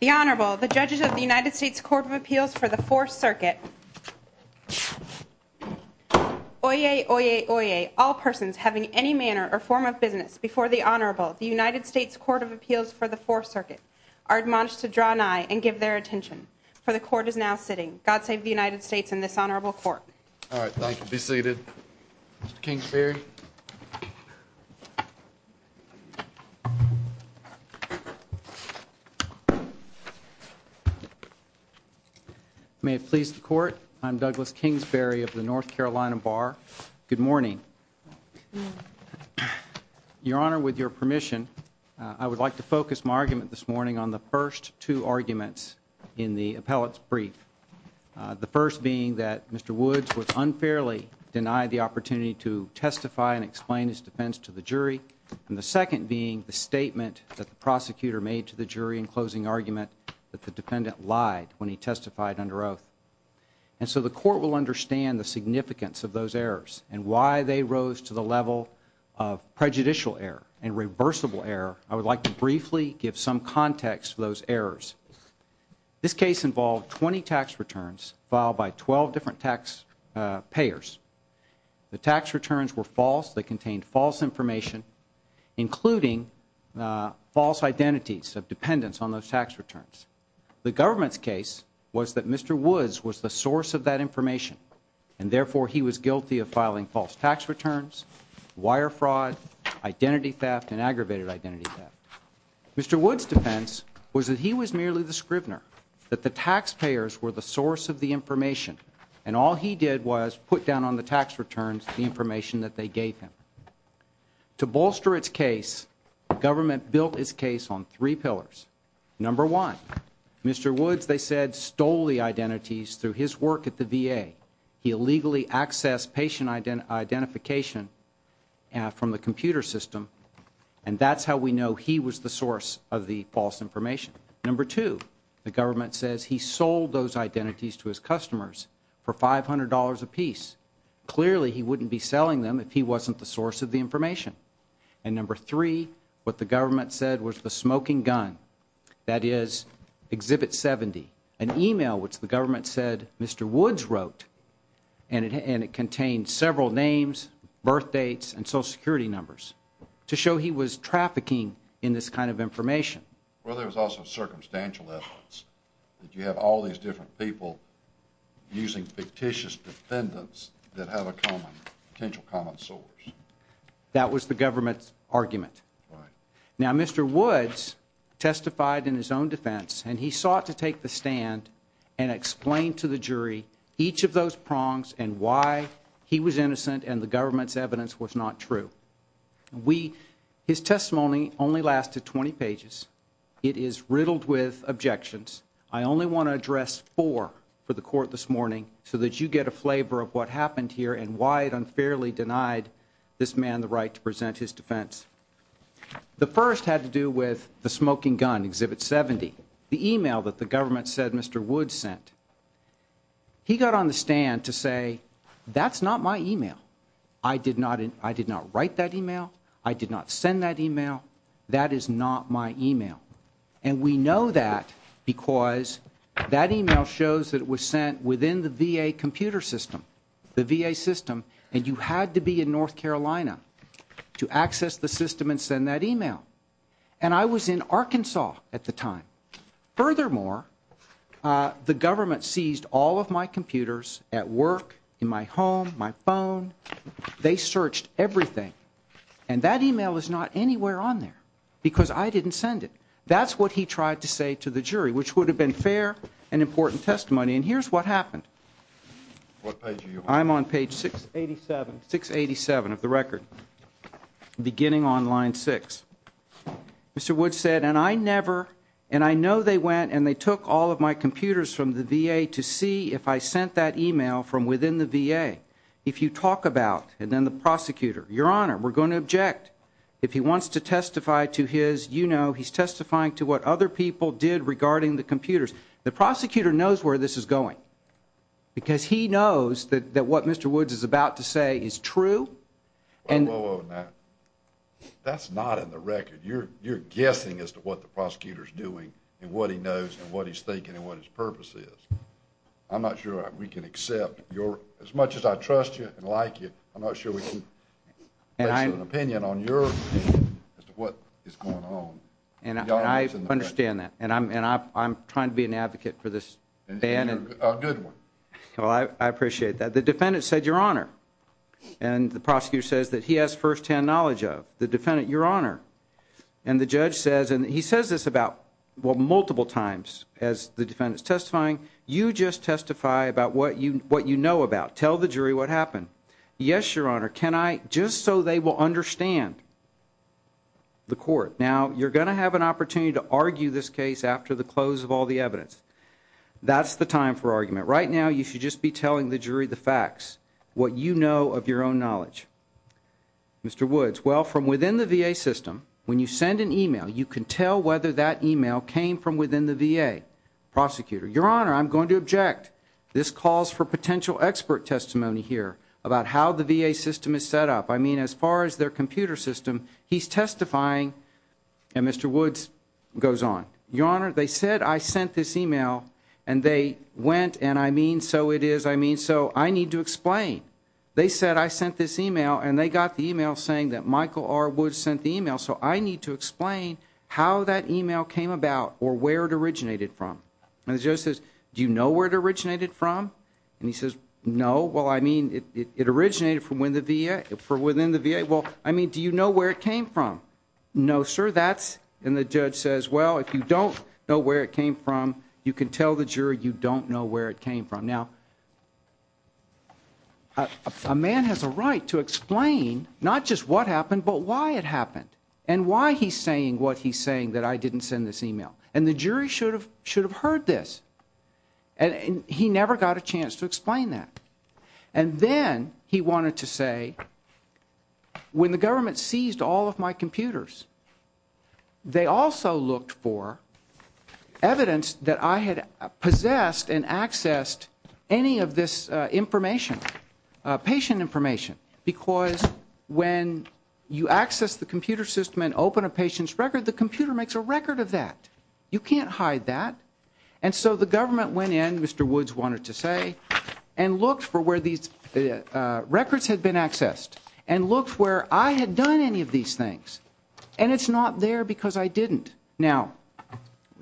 The Honorable, the Judges of the United States Court of Appeals for the Fourth Circuit. Oyez, oyez, oyez, all persons having any manner or form of business before the Honorable, the United States Court of Appeals for the Fourth Circuit, are admonished to draw nigh and give their attention, for the Court is now sitting. God save the United States and this Honorable Court. All right, thank you. Be seated. Mr. Kingsbury. May it please the Court, I'm Douglas Kingsbury of the North Carolina Bar. Good morning. Good morning. Your Honor, with your permission, I would like to focus my argument this morning on the first two arguments in the appellate's brief. The first being that Mr. Woods was unfairly denied the opportunity to testify and explain his defense to the jury, and the second being the statement that the prosecutor made to the jury in closing argument that the defendant lied when he testified under oath. And so the Court will understand the significance of those errors and why they rose to the level of prejudicial error and reversible error. I would like to briefly give some context for those errors. This case involved 20 tax returns filed by 12 different tax payers. The tax returns were false, they contained false information, including false identities of dependents on those tax returns. The government's case was that Mr. Woods was the source of that information, and therefore he was guilty of filing false tax returns, wire fraud, identity theft, and aggravated identity theft. Mr. Woods' defense was that he was merely the scrivener, that the taxpayers were the source of the information, and all he did was put down on the tax returns the information that they gave him. To bolster its case, the government built its case on three pillars. Number one, Mr. Woods, they said, stole the identities through his work at the VA. He illegally accessed patient identification from the computer system, and that's how we know he was the source of the false information. Number two, the government says he sold those identities to his customers for $500 apiece. Clearly, he wouldn't be selling them if he wasn't the source of the information. And number three, what the government said was the smoking gun, that is, Exhibit 70, an email which the government said Mr. Woods wrote, and it contained several names, birthdates, and Social Security numbers, to show he was trafficking in this kind of information. Well, there was also circumstantial evidence that you have all these different people using fictitious defendants that have a potential common source. That was the government's argument. Right. Now, Mr. Woods testified in his own defense, and he sought to take the stand and explain to the jury each of those prongs and why he was innocent and the government's evidence was not true. His testimony only lasted 20 pages. It is riddled with objections. I only want to address four for the court this morning so that you get a flavor of what happened here and why it unfairly denied this man the right to present his defense. The first had to do with the smoking gun, Exhibit 70, the email that the government said Mr. Woods sent. He got on the stand to say, that's not my email. I did not write that email. I did not send that email. That is not my email. And we know that because that email shows that it was sent within the VA computer system, the VA system, and you had to be in North Carolina to access the system and send that email. And I was in Arkansas at the time. Furthermore, the government seized all of my computers at work, in my home, my phone. They searched everything. And that email is not anywhere on there because I didn't send it. That's what he tried to say to the jury, which would have been fair and important testimony. And here's what happened. I'm on page 687 of the record, beginning on line 6. Mr. Woods said, and I never, and I know they went and they took all of my computers from the VA to see if I sent that email from within the VA. If you talk about, and then the prosecutor, Your Honor, we're going to object. If he wants to testify to his, you know, he's testifying to what other people did regarding the computers. The prosecutor knows where this is going because he knows that what Mr. Woods is about to say is true. Whoa, whoa, whoa, now. That's not in the record. You're guessing as to what the prosecutor's doing and what he knows and what he's thinking and what his purpose is. I'm not sure we can accept your, as much as I trust you and like you, I'm not sure we can make an opinion on your opinion as to what is going on. And I understand that. And I'm trying to be an advocate for this ban. A good one. Well, I appreciate that. The defendant said, Your Honor, and the prosecutor says that he has firsthand knowledge of. The defendant, Your Honor, and the judge says, and he says this about, well, multiple times as the defendant's testifying, you just testify about what you know about. Tell the jury what happened. Yes, Your Honor, can I, just so they will understand the court. Now, you're going to have an opportunity to argue this case after the close of all the evidence. That's the time for argument. Right now, you should just be telling the jury the facts, what you know of your own knowledge. Mr. Woods, well, from within the VA system, when you send an email, you can tell whether that email came from within the VA prosecutor. Your Honor, I'm going to object. This calls for potential expert testimony here about how the VA system is set up. I mean, as far as their computer system, he's testifying, and Mr. Woods goes on. Your Honor, they said I sent this email, and they went, and I mean, so it is. I mean, so I need to explain. They said I sent this email, and they got the email saying that Michael R. Woods sent the email, so I need to explain how that email came about or where it originated from. And the judge says, do you know where it originated from? And he says, no. Well, I mean, it originated from within the VA. Well, I mean, do you know where it came from? No, sir. And the judge says, well, if you don't know where it came from, you can tell the jury you don't know where it came from. Now, a man has a right to explain not just what happened but why it happened and why he's saying what he's saying that I didn't send this email. And the jury should have heard this, and he never got a chance to explain that. And then he wanted to say, when the government seized all of my computers, they also looked for evidence that I had possessed and accessed any of this information, patient information, because when you access the computer system and open a patient's record, the computer makes a record of that. You can't hide that. And so the government went in, Mr. Woods wanted to say, and looked for where these records had been accessed and looked where I had done any of these things. And it's not there because I didn't. Now,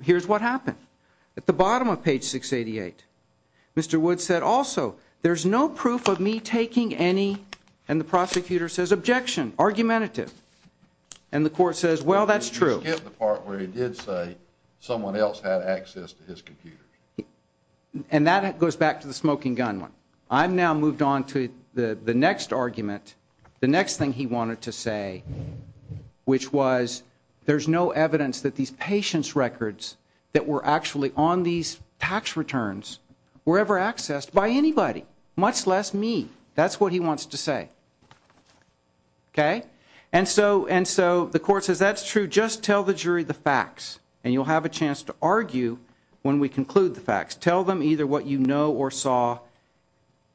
here's what happened. At the bottom of page 688, Mr. Woods said, also, there's no proof of me taking any, and the prosecutor says, objection, argumentative. And the court says, well, that's true. I forget the part where he did say someone else had access to his computer. And that goes back to the smoking gun one. I've now moved on to the next argument, the next thing he wanted to say, which was there's no evidence that these patient's records that were actually on these tax returns were ever accessed by anybody, much less me. That's what he wants to say. Okay? And so the court says, that's true, just tell the jury the facts, and you'll have a chance to argue when we conclude the facts. Tell them either what you know or saw.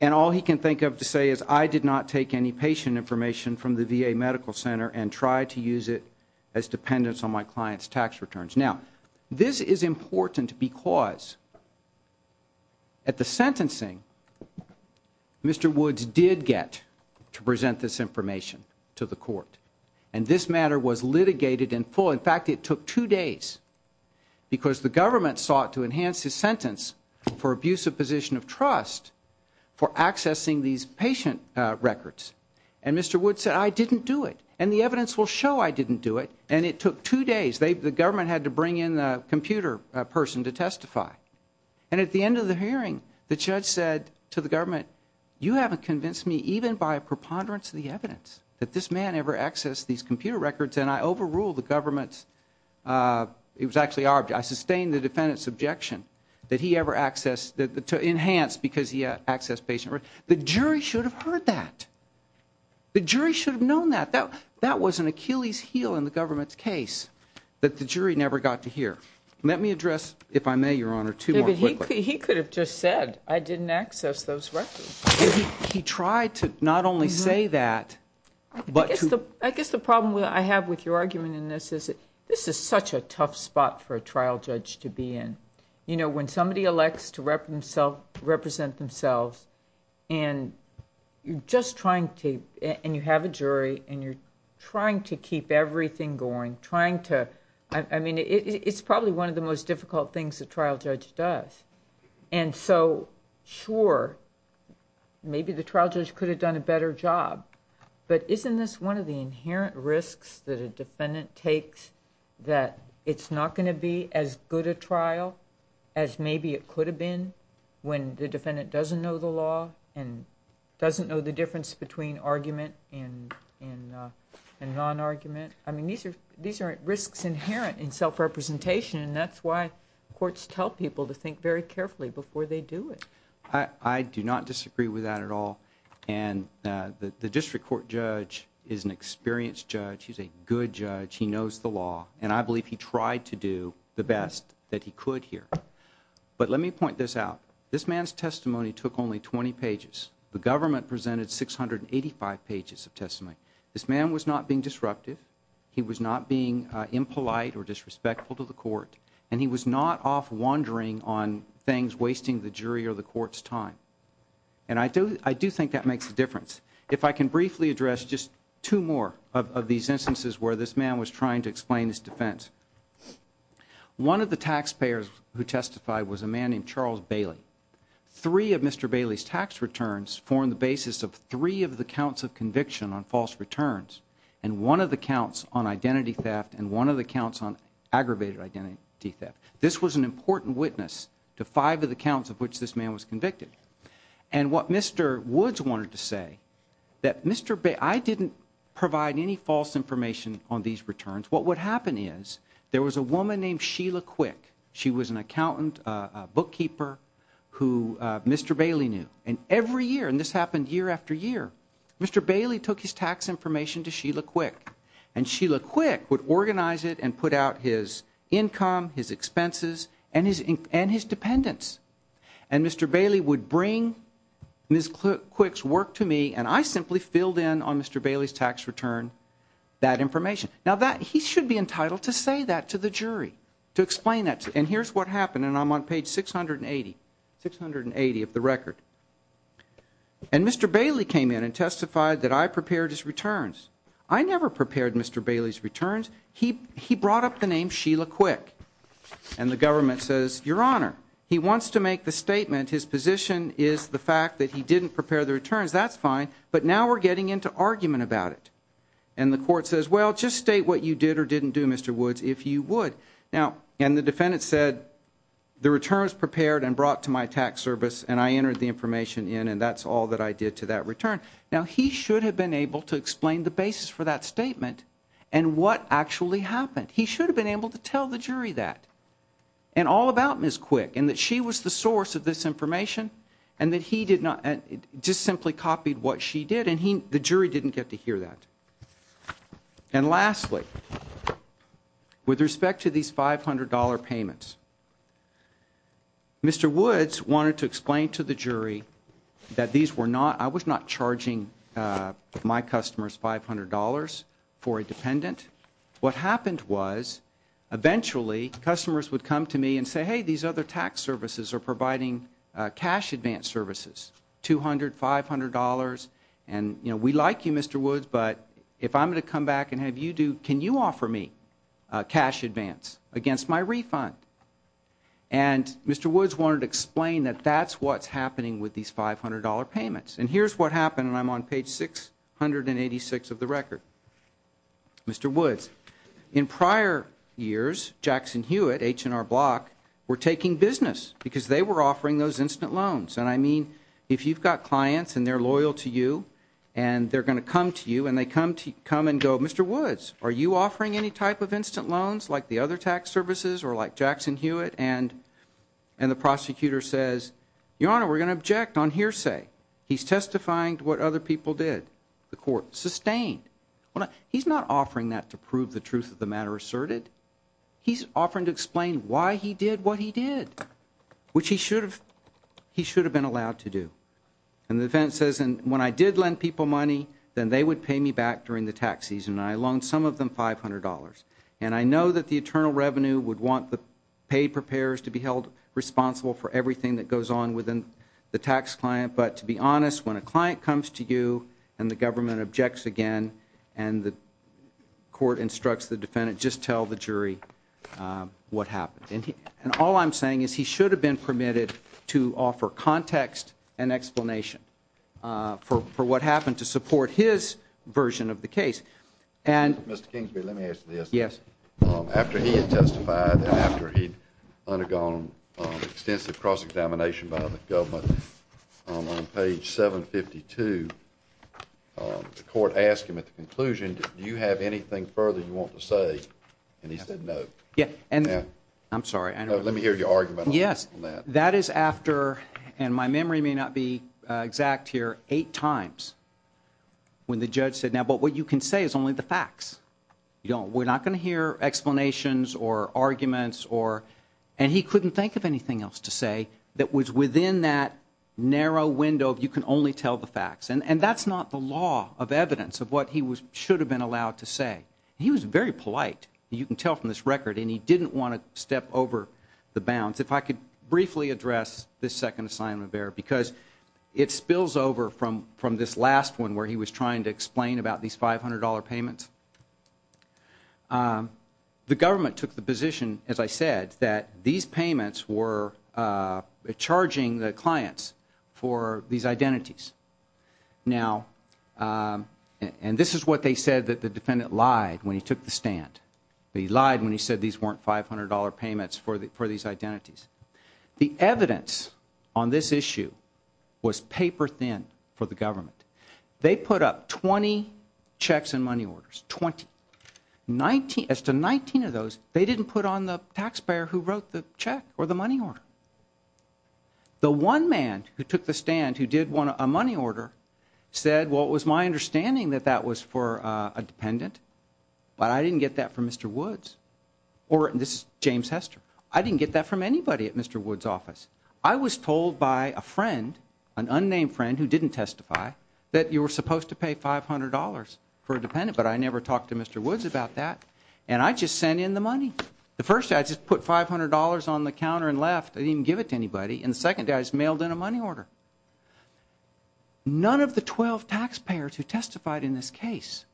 And all he can think of to say is I did not take any patient information from the VA Medical Center and try to use it as dependence on my client's tax returns. Now, this is important because at the sentencing, Mr. Woods did get to present this information to the court. And this matter was litigated in full. In fact, it took two days because the government sought to enhance his sentence for abuse of position of trust for accessing these patient records. And Mr. Woods said, I didn't do it. And the evidence will show I didn't do it. And it took two days. The government had to bring in a computer person to testify. And at the end of the hearing, the judge said to the government, you haven't convinced me even by a preponderance of the evidence that this man ever accessed these computer records, and I overruled the government's, it was actually our, I sustained the defendant's objection that he ever accessed, to enhance because he accessed patient records. The jury should have heard that. The jury should have known that. That was an Achilles heel in the government's case that the jury never got to hear. Let me address, if I may, Your Honor, two more quickly. He could have just said, I didn't access those records. He tried to not only say that, but to. I guess the problem I have with your argument in this is this is such a tough spot for a trial judge to be in. You know, when somebody elects to represent themselves, and you're just trying to, and you have a jury, and you're trying to keep everything going, trying to, I mean, it's probably one of the most difficult things a trial judge does. And so, sure, maybe the trial judge could have done a better job. But isn't this one of the inherent risks that a defendant takes, that it's not going to be as good a trial as maybe it could have been when the defendant doesn't know the law and doesn't know the difference between argument and non-argument? I mean, these are risks inherent in self-representation, and that's why courts tell people to think very carefully before they do it. I do not disagree with that at all. And the district court judge is an experienced judge. He's a good judge. He knows the law, and I believe he tried to do the best that he could here. But let me point this out. This man's testimony took only 20 pages. The government presented 685 pages of testimony. This man was not being disruptive. He was not being impolite or disrespectful to the court, and he was not off wandering on things wasting the jury or the court's time. And I do think that makes a difference. If I can briefly address just two more of these instances where this man was trying to explain his defense. One of the taxpayers who testified was a man named Charles Bailey. Three of Mr. Bailey's tax returns formed the basis of three of the counts of conviction on false returns and one of the counts on identity theft and one of the counts on aggravated identity theft. This was an important witness to five of the counts of which this man was convicted. And what Mr. Woods wanted to say, that I didn't provide any false information on these returns. What would happen is there was a woman named Sheila Quick. She was an accountant, a bookkeeper who Mr. Bailey knew. And every year, and this happened year after year, Mr. Bailey took his tax information to Sheila Quick, and Sheila Quick would organize it and put out his income, his expenses, and his dependents. And Mr. Bailey would bring Ms. Quick's work to me, and I simply filled in on Mr. Bailey's tax return that information. Now, he should be entitled to say that to the jury, to explain that. And here's what happened, and I'm on page 680 of the record. And Mr. Bailey came in and testified that I prepared his returns. I never prepared Mr. Bailey's returns. He brought up the name Sheila Quick, and the government says, Your Honor, he wants to make the statement his position is the fact that he didn't prepare the returns. That's fine, but now we're getting into argument about it. And the court says, Well, just state what you did or didn't do, Mr. Woods, if you would. And the defendant said, The returns prepared and brought to my tax service, and I entered the information in, and that's all that I did to that return. Now, he should have been able to explain the basis for that statement and what actually happened. He should have been able to tell the jury that. And all about Ms. Quick, and that she was the source of this information, and that he did not, just simply copied what she did, and the jury didn't get to hear that. And lastly, with respect to these $500 payments, Mr. Woods wanted to explain to the jury that these were not, I was not charging my customers $500 for a dependent. What happened was, eventually, customers would come to me and say, Hey, these other tax services are providing cash advance services, $200, $500. And, you know, we like you, Mr. Woods, but if I'm going to come back and have you do, can you offer me cash advance against my refund? And Mr. Woods wanted to explain that that's what's happening with these $500 payments. And here's what happened, and I'm on page 686 of the record. Mr. Woods, in prior years, Jackson Hewitt, H&R Block, were taking business, because they were offering those instant loans. And I mean, if you've got clients, and they're loyal to you, and they're going to come to you, and they come and go, Mr. Woods, are you offering any type of instant loans, like the other tax services, or like Jackson Hewitt, and the prosecutor says, Your Honor, we're going to object on hearsay. He's testifying to what other people did. The court sustained. He's not offering that to prove the truth of the matter asserted. He's offering to explain why he did what he did, which he should have been allowed to do. And the defense says, And when I did lend people money, then they would pay me back during the tax season, and I loaned some of them $500. And I know that the eternal revenue would want the paid preparers to be held responsible for everything that goes on within the tax client. But to be honest, when a client comes to you, and the government objects again, and the court instructs the defendant, just tell the jury what happened. And all I'm saying is he should have been permitted to offer context and explanation for what happened to support his version of the case. Mr. Kingsbury, let me ask you this. Yes. After he had testified and after he'd undergone extensive cross-examination by the government, on page 752, the court asked him at the conclusion, Do you have anything further you want to say? And he said no. Yeah. I'm sorry. Let me hear your argument on that. Yes. That is after, and my memory may not be exact here, eight times when the judge said, Now, but what you can say is only the facts. We're not going to hear explanations or arguments, and he couldn't think of anything else to say that was within that narrow window of you can only tell the facts. And that's not the law of evidence of what he should have been allowed to say. He was very polite. You can tell from this record, and he didn't want to step over the bounds. If I could briefly address this second assignment there, because it spills over from this last one where he was trying to explain about these $500 payments. The government took the position, as I said, that these payments were charging the clients for these identities. Now, and this is what they said that the defendant lied when he took the stand. He lied when he said these weren't $500 payments for these identities. The evidence on this issue was paper thin for the government. They put up 20 checks and money orders, 20. As to 19 of those, they didn't put on the taxpayer who wrote the check or the money order. The one man who took the stand who did a money order said, Well, it was my understanding that that was for a dependent, but I didn't get that from Mr. Woods. Or this is James Hester. I didn't get that from anybody at Mr. Woods' office. I was told by a friend, an unnamed friend who didn't testify, that you were supposed to pay $500 for a dependent, but I never talked to Mr. Woods about that, and I just sent in the money. The first day, I just put $500 on the counter and left. I didn't even give it to anybody. And the second day, I just mailed in a money order. None of the 12 taxpayers who testified in this case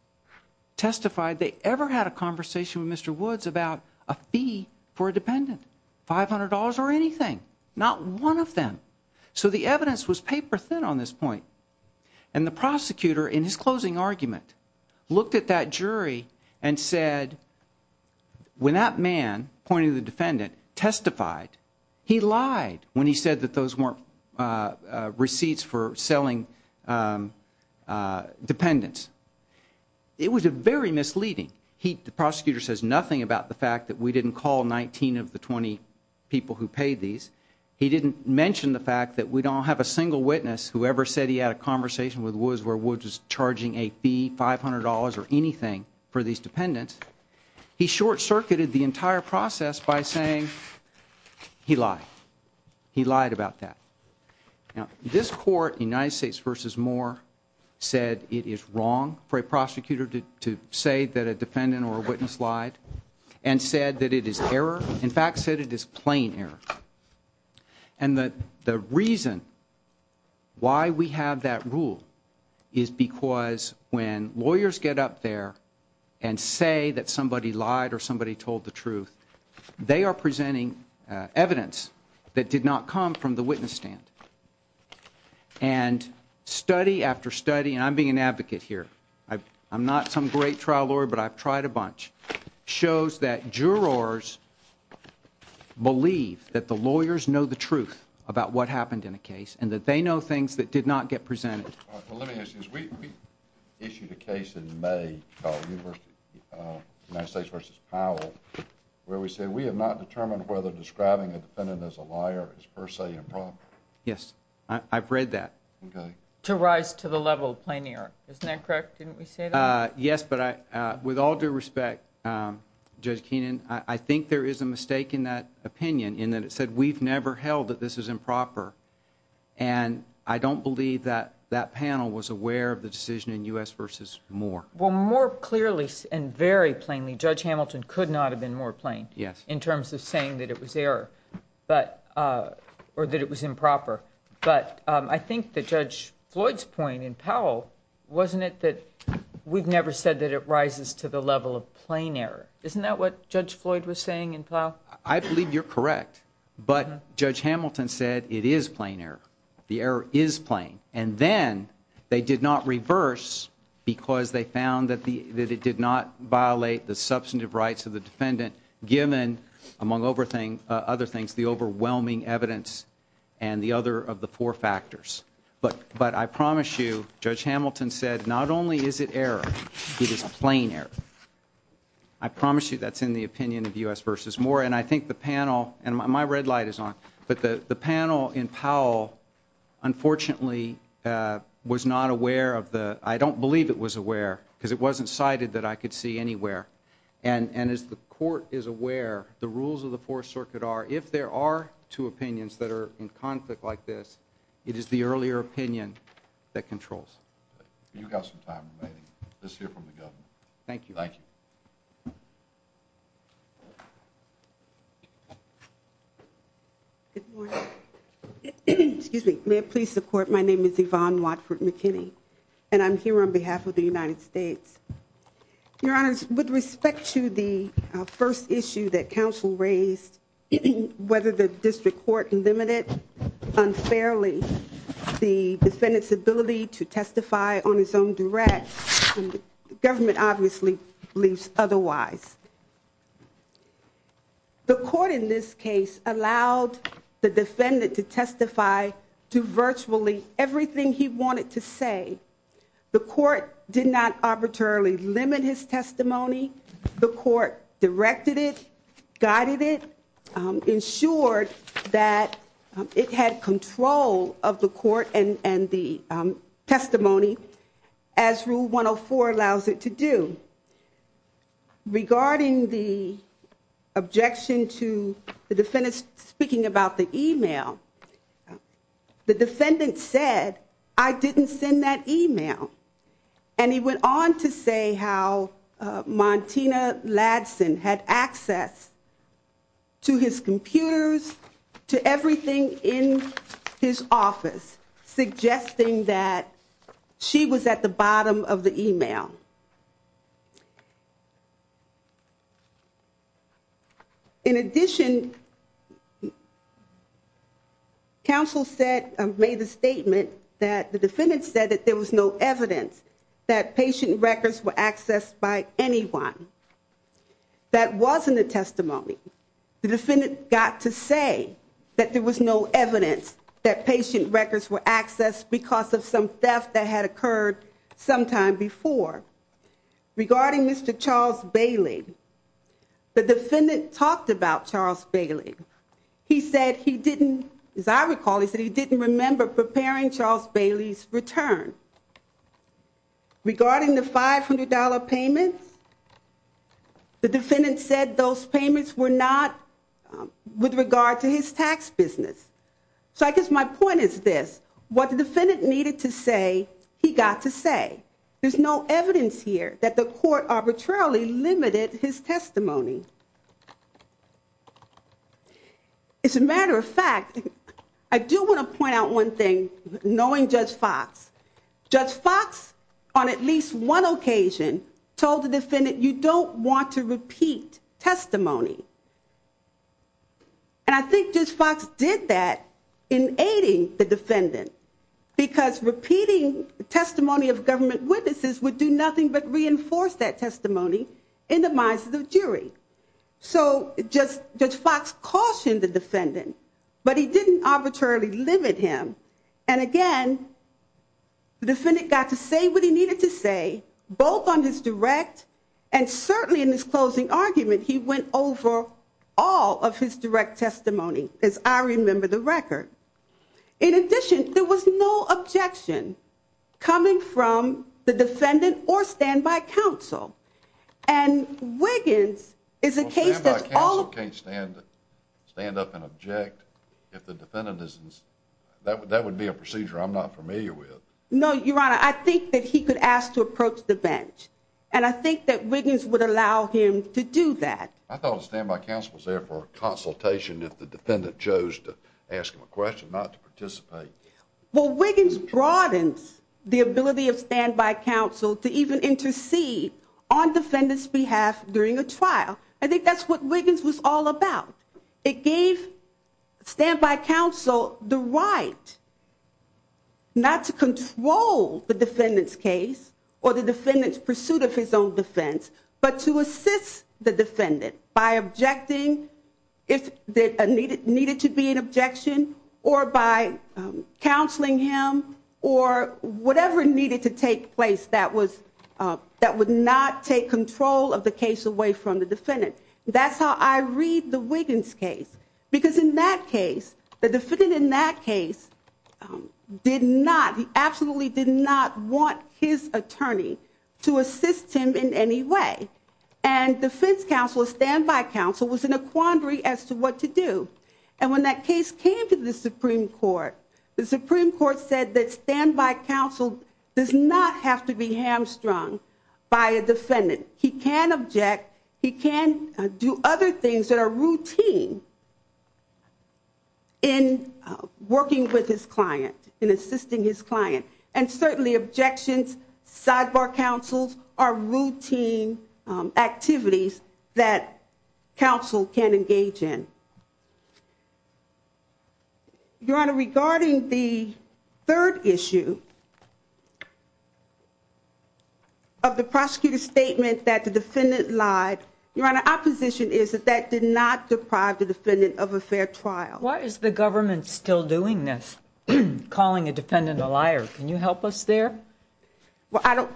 testified they ever had a conversation with Mr. Woods about a fee for a dependent, $500 or anything, not one of them. So the evidence was paper thin on this point. And the prosecutor, in his closing argument, looked at that jury and said, When that man, pointing to the defendant, testified, he lied when he said that those weren't receipts for selling dependents. It was very misleading. The prosecutor says nothing about the fact that we didn't call 19 of the 20 people who paid these. He didn't mention the fact that we don't have a single witness who ever said he had a conversation with Woods where Woods was charging a fee, $500 or anything, for these dependents. He short-circuited the entire process by saying he lied. He lied about that. This court, United States v. Moore, said it is wrong for a prosecutor to say that a defendant or a witness lied and said that it is error. In fact, said it is plain error. And the reason why we have that rule is because when lawyers get up there and say that somebody lied or somebody told the truth, they are presenting evidence that did not come from the witness stand. And study after study, and I'm being an advocate here, I'm not some great trial lawyer, but I've tried a bunch, shows that jurors believe that the lawyers know the truth about what happened in a case and that they know things that did not get presented. Well, let me ask you, we issued a case in May called United States v. Powell where we said we have not determined whether describing a defendant as a liar is per se improper. Yes, I've read that. To rise to the level of plain error. Isn't that correct? Didn't we say that? Yes, but with all due respect, Judge Keenan, I think there is a mistake in that opinion in that it said we've never held that this is improper. And I don't believe that that panel was aware of the decision in U.S. v. Moore. Well, more clearly and very plainly, Judge Hamilton could not have been more plain. Yes. In terms of saying that it was error or that it was improper. But I think that Judge Floyd's point in Powell, wasn't it that we've never said that it rises to the level of plain error? Isn't that what Judge Floyd was saying in Powell? Well, I believe you're correct. But Judge Hamilton said it is plain error. The error is plain. And then they did not reverse because they found that it did not violate the substantive rights of the defendant given, among other things, the overwhelming evidence and the other of the four factors. But I promise you, Judge Hamilton said not only is it error, it is plain error. I promise you that's in the opinion of U.S. v. Moore. And I think the panel, and my red light is on. But the panel in Powell, unfortunately, was not aware of the, I don't believe it was aware because it wasn't cited that I could see anywhere. And as the court is aware, the rules of the Fourth Circuit are, if there are two opinions that are in conflict like this, it is the earlier opinion that controls. You've got some time remaining. Let's hear from the Governor. Thank you. Thank you. Good morning. May I please support? My name is Yvonne Watford McKinney, and I'm here on behalf of the United States. Your Honors, with respect to the first issue that counsel raised, whether the district court limited unfairly the defendant's ability to testify on his own direct, the government obviously believes otherwise. The court in this case allowed the defendant to testify to virtually everything he wanted to say. The court did not arbitrarily limit his testimony. The court directed it, guided it, ensured that it had control of the court and the testimony, as Rule 104 allows it to do. Regarding the objection to the defendant speaking about the e-mail, the defendant said, I didn't send that e-mail. And he went on to say how Montina Ladson had access to his computers, to everything in his office, suggesting that she was at the bottom of the e-mail. In addition, counsel said, made the statement that the defendant said that there was no evidence that patient records were accessed by anyone. That wasn't a testimony. The defendant got to say that there was no evidence that patient records were accessed because of some theft that had occurred sometime before. Regarding Mr. Charles Bailey, the defendant talked about Charles Bailey. He said he didn't, as I recall, he said he didn't remember preparing Charles Bailey's return. Regarding the $500 payments, the defendant said those payments were not with regard to his tax business. So I guess my point is this. What the defendant needed to say, he got to say. There's no evidence here that the court arbitrarily limited his testimony. As a matter of fact, I do want to point out one thing, knowing Judge Fox. Judge Fox, on at least one occasion, told the defendant, you don't want to repeat testimony. And I think Judge Fox did that in aiding the defendant because repeating testimony of government witnesses would do nothing but reinforce that testimony in the minds of the jury. So Judge Fox cautioned the defendant, but he didn't arbitrarily limit him. And again, the defendant got to say what he needed to say, both on his direct and certainly in his closing argument he went over all of his direct testimony, as I remember the record. In addition, there was no objection coming from the defendant or standby counsel. And Wiggins is a case that's all Standby counsel can't stand up and object if the defendant doesn't. That would be a procedure I'm not familiar with. No, Your Honor, I think that he could ask to approach the bench. And I think that Wiggins would allow him to do that. I thought the standby counsel was there for a consultation if the defendant chose to ask him a question, not to participate. Well, Wiggins broadens the ability of standby counsel to even intercede on defendant's behalf during a trial. I think that's what Wiggins was all about. It gave standby counsel the right not to control the defendant's case or the defendant's pursuit of his own defense, but to assist the defendant by objecting if there needed to be an objection or by counseling him or whatever needed to take place that would not take control of the case away from the defendant. That's how I read the Wiggins case. Because in that case, the defendant in that case did not, he absolutely did not want his attorney to assist him in any way. And defense counsel, standby counsel was in a quandary as to what to do. And when that case came to the Supreme Court, the Supreme Court said that standby counsel does not have to be hamstrung by a defendant. He can object. He can do other things that are routine in working with his client, in assisting his client. And certainly objections, sidebar counsels are routine activities that counsel can engage in. Your Honor, regarding the third issue of the prosecutor's statement that the defendant lied, Your Honor, our position is that that did not deprive the defendant of a fair trial. Why is the government still doing this, calling a defendant a liar? Can you help us there? Well, I don't...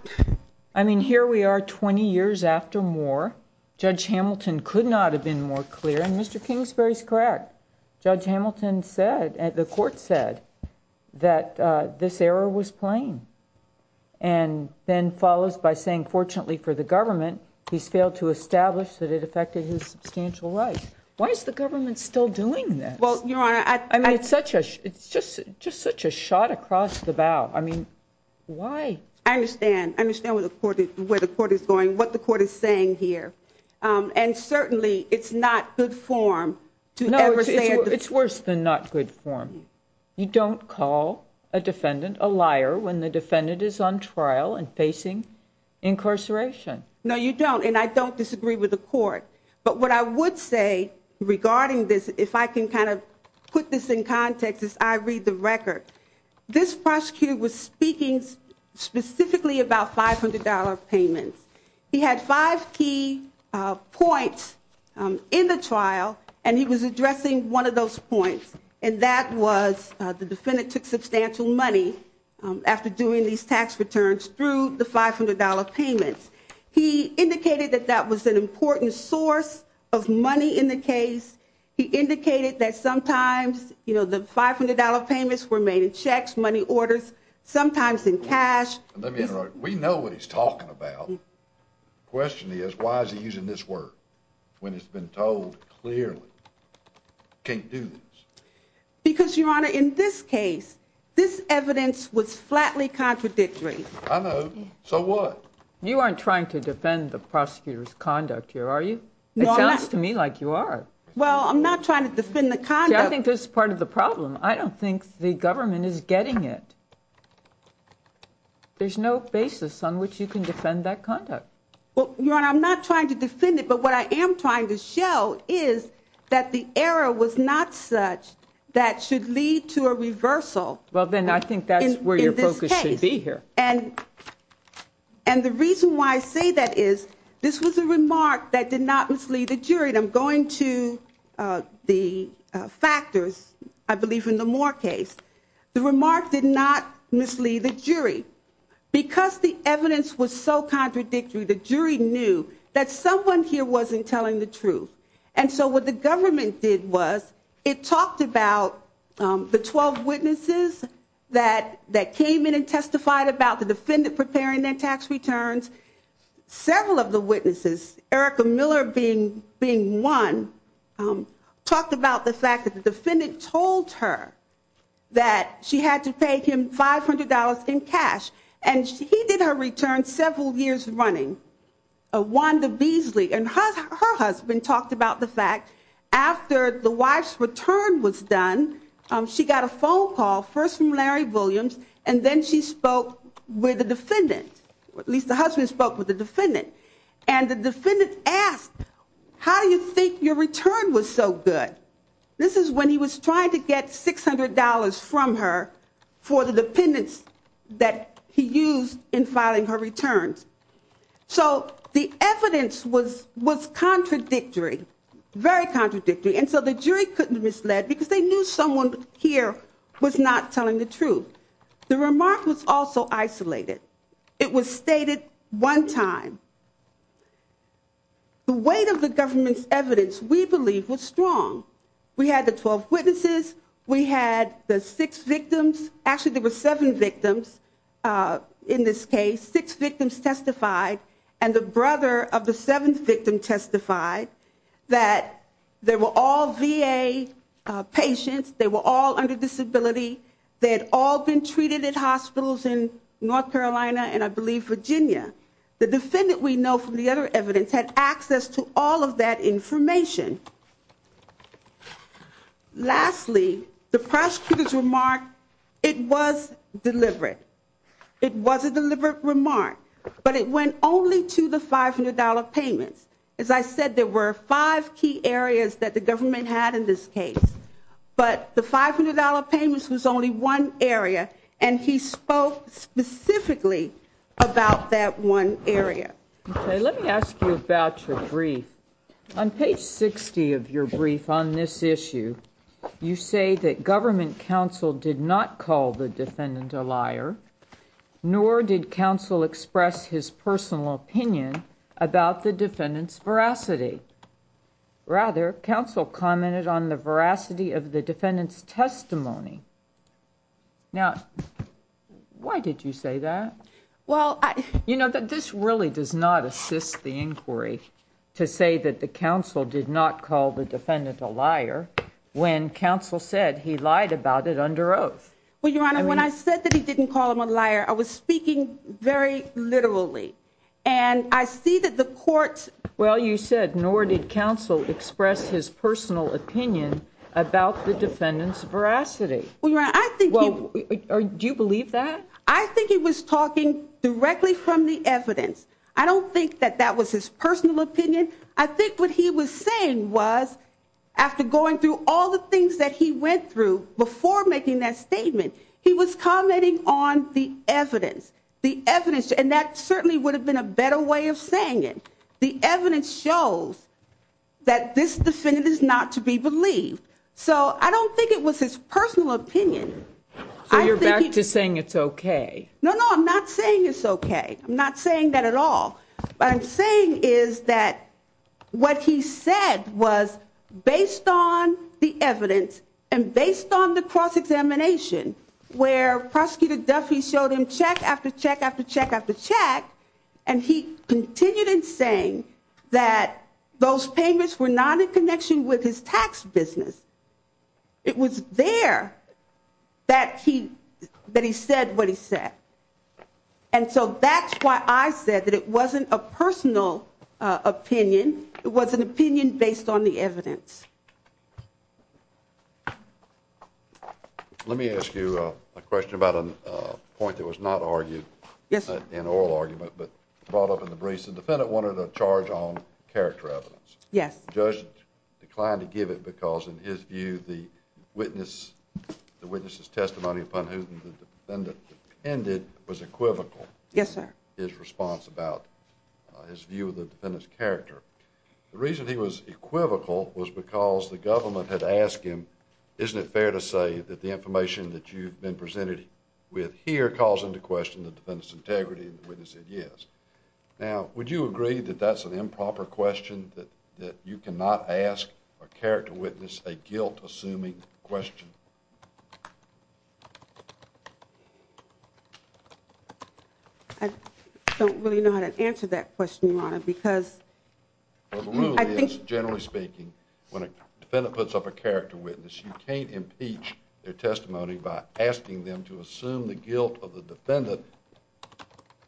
I mean, here we are 20 years after Moore. Judge Hamilton could not have been more clear, and Mr. Kingsbury's correct. Judge Hamilton said, the court said, that this error was plain. And then follows by saying, fortunately for the government, he's failed to establish that it affected his substantial rights. Why is the government still doing this? Well, Your Honor, I... I mean, it's just such a shot across the bow. I mean, why? I understand. I understand where the court is going, what the court is saying here. And certainly, it's not good form to ever say... No, it's worse than not good form. You don't call a defendant a liar when the defendant is on trial and facing incarceration. No, you don't, and I don't disagree with the court. But what I would say regarding this, if I can kind of put this in context as I read the record, this prosecutor was speaking specifically about $500 payments. He had five key points in the trial, and he was addressing one of those points, and that was the defendant took substantial money after doing these tax returns through the $500 payments. He indicated that that was an important source of money in the case. He indicated that sometimes, you know, the $500 payments were made in checks, money orders, sometimes in cash. Let me interrupt. We know what he's talking about. The question is, why is he using this word when it's been told clearly he can't do this? Because, Your Honor, in this case, this evidence was flatly contradictory. I know. So what? You aren't trying to defend the prosecutor's conduct here, are you? It sounds to me like you are. Well, I'm not trying to defend the conduct. See, I think this is part of the problem. I don't think the government is getting it. There's no basis on which you can defend that conduct. Well, Your Honor, I'm not trying to defend it, but what I am trying to show is that the error was not such that should lead to a reversal. Well, then I think that's where your focus should be here. And the reason why I say that is this was a remark that did not mislead the jury. I'm going to the factors, I believe, in the Moore case. The remark did not mislead the jury. Because the evidence was so contradictory, the jury knew that someone here wasn't telling the truth. And so what the government did was it talked about the 12 witnesses that came in and testified about the defendant preparing their tax returns. Several of the witnesses, Erica Miller being one, talked about the fact that the defendant told her that she had to pay him $500 in cash. And he did her return several years running, Wanda Beasley. And her husband talked about the fact after the wife's return was done, she got a phone call, first from Larry Williams, and then she spoke with the defendant, at least the husband spoke with the defendant. And the defendant asked, how do you think your return was so good? This is when he was trying to get $600 from her for the dependents that he used in filing her returns. So the evidence was contradictory, very contradictory. And so the jury couldn't mislead because they knew someone here was not telling the truth. The remark was also isolated. It was stated one time. The weight of the government's evidence, we believe, was strong. We had the 12 witnesses. We had the six victims. Actually, there were seven victims in this case. Six victims testified. And the brother of the seventh victim testified that they were all VA patients. They were all under disability. They had all been treated at hospitals in North Carolina and, I believe, Virginia. The defendant we know from the other evidence had access to all of that information. Lastly, the prosecutor's remark, it was deliberate. It was a deliberate remark. But it went only to the $500 payments. As I said, there were five key areas that the government had in this case. But the $500 payments was only one area, and he spoke specifically about that one area. Okay, let me ask you about your brief. On page 60 of your brief on this issue, you say that government counsel did not call the defendant a liar, nor did counsel express his personal opinion about the defendant's veracity. Rather, counsel commented on the veracity of the defendant's testimony. Now, why did you say that? You know, this really does not assist the inquiry to say that the counsel did not call the defendant a liar when counsel said he lied about it under oath. Well, Your Honor, when I said that he didn't call him a liar, I was speaking very literally. And I see that the court's... Well, you said, nor did counsel express his personal opinion about the defendant's veracity. Well, Your Honor, I think he... Well, do you believe that? I think he was talking directly from the evidence. I don't think that that was his personal opinion. I think what he was saying was, after going through all the things that he went through before making that statement, he was commenting on the evidence. The evidence, and that certainly would have been a better way of saying it. The evidence shows that this defendant is not to be believed. So I don't think it was his personal opinion. So you're back to saying it's okay. No, no, I'm not saying it's okay. I'm not saying that at all. What I'm saying is that what he said was based on the evidence and based on the cross-examination, where Prosecutor Duffy showed him check after check after check after check, and he continued in saying that those payments were not in connection with his tax business. It was there that he said what he said. And so that's why I said that it wasn't a personal opinion. It was an opinion based on the evidence. Let me ask you a question about a point that was not argued in oral argument but brought up in the briefs. The defendant wanted a charge on character evidence. Yes. The judge declined to give it because, in his view, the witness's testimony upon whom the defendant depended was equivocal. Yes, sir. His response about his view of the defendant's character. The reason he was equivocal was because the government had asked him, isn't it fair to say that the information that you've been presented with here calls into question the defendant's integrity, and the witness said yes. Now, would you agree that that's an improper question, that you cannot ask a character witness a guilt-assuming question? I don't really know how to answer that question, Your Honor, because I think— Well, the rule is, generally speaking, when a defendant puts up a character witness, you can't impeach their testimony by asking them to assume the guilt of the defendant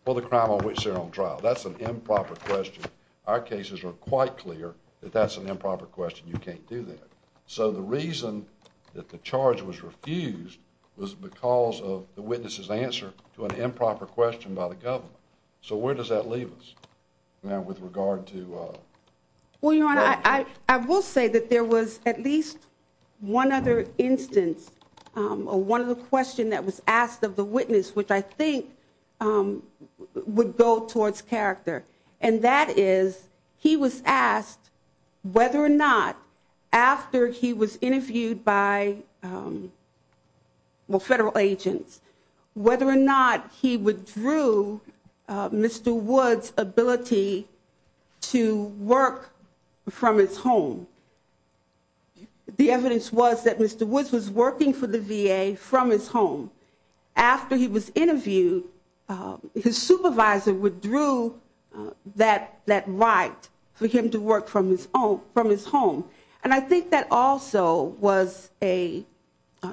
for the crime on which they're on trial. That's an improper question. Our cases are quite clear that that's an improper question. You can't do that. So the reason that the charge was refused was because of the witness's answer to an improper question by the government. So where does that leave us now with regard to— Well, Your Honor, I will say that there was at least one other instance or one other question that was asked of the witness, which I think would go towards character, and that is he was asked whether or not, after he was interviewed by federal agents, whether or not he withdrew Mr. Woods' ability to work from his home. The evidence was that Mr. Woods was working for the VA from his home. After he was interviewed, his supervisor withdrew that right for him to work from his home. And I think that also was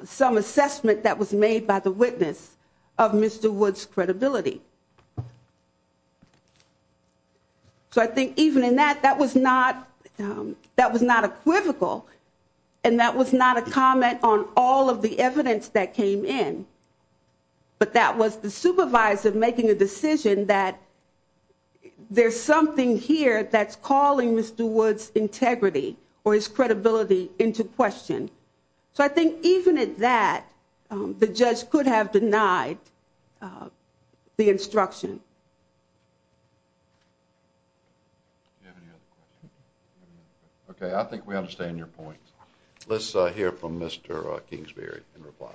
some assessment that was made by the witness of Mr. Woods' credibility. So I think even in that, that was not equivocal, and that was not a comment on all of the evidence that came in, but that was the supervisor making a decision that there's something here that's calling Mr. Woods' integrity or his credibility into question. So I think even at that, the judge could have denied the instruction. Okay, I think we understand your point. Let's hear from Mr. Kingsbury in reply.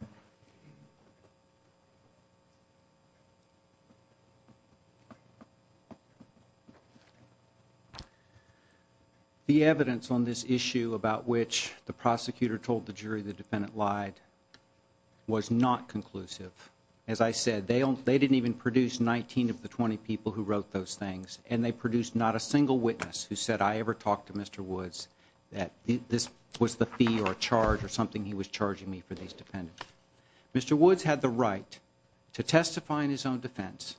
Thank you. The evidence on this issue about which the prosecutor told the jury the defendant lied was not conclusive. As I said, they didn't even produce 19 of the 20 people who wrote those things, and they produced not a single witness who said, I ever talked to Mr. Woods, that this was the fee or charge or something he was charging me for these defendants. Mr. Woods had the right to testify in his own defense,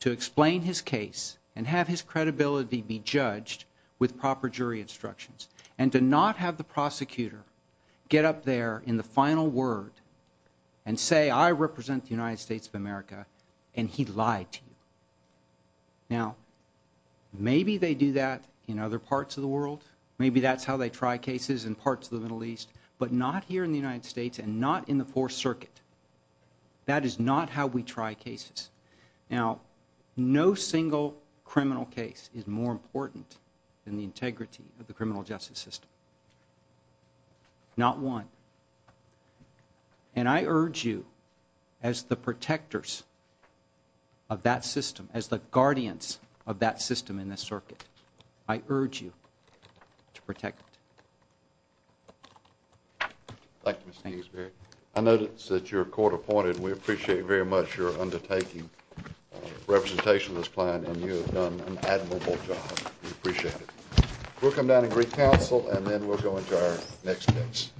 to explain his case and have his credibility be judged with proper jury instructions, and to not have the prosecutor get up there in the final word and say, I represent the United States of America, and he lied to you. Now, maybe they do that in other parts of the world. Maybe that's how they try cases in parts of the Middle East, but not here in the United States and not in the Fourth Circuit. That is not how we try cases. Now, no single criminal case is more important than the integrity of the criminal justice system. Not one. And I urge you, as the protectors of that system, as the guardians of that system in this circuit, I urge you to protect it. Thank you, Mr. Gainsbury. I notice that you're court-appointed. We appreciate very much your undertaking representation of this plan, and you have done an admirable job. We appreciate it. We'll come down and greet counsel, and then we'll go into our next case.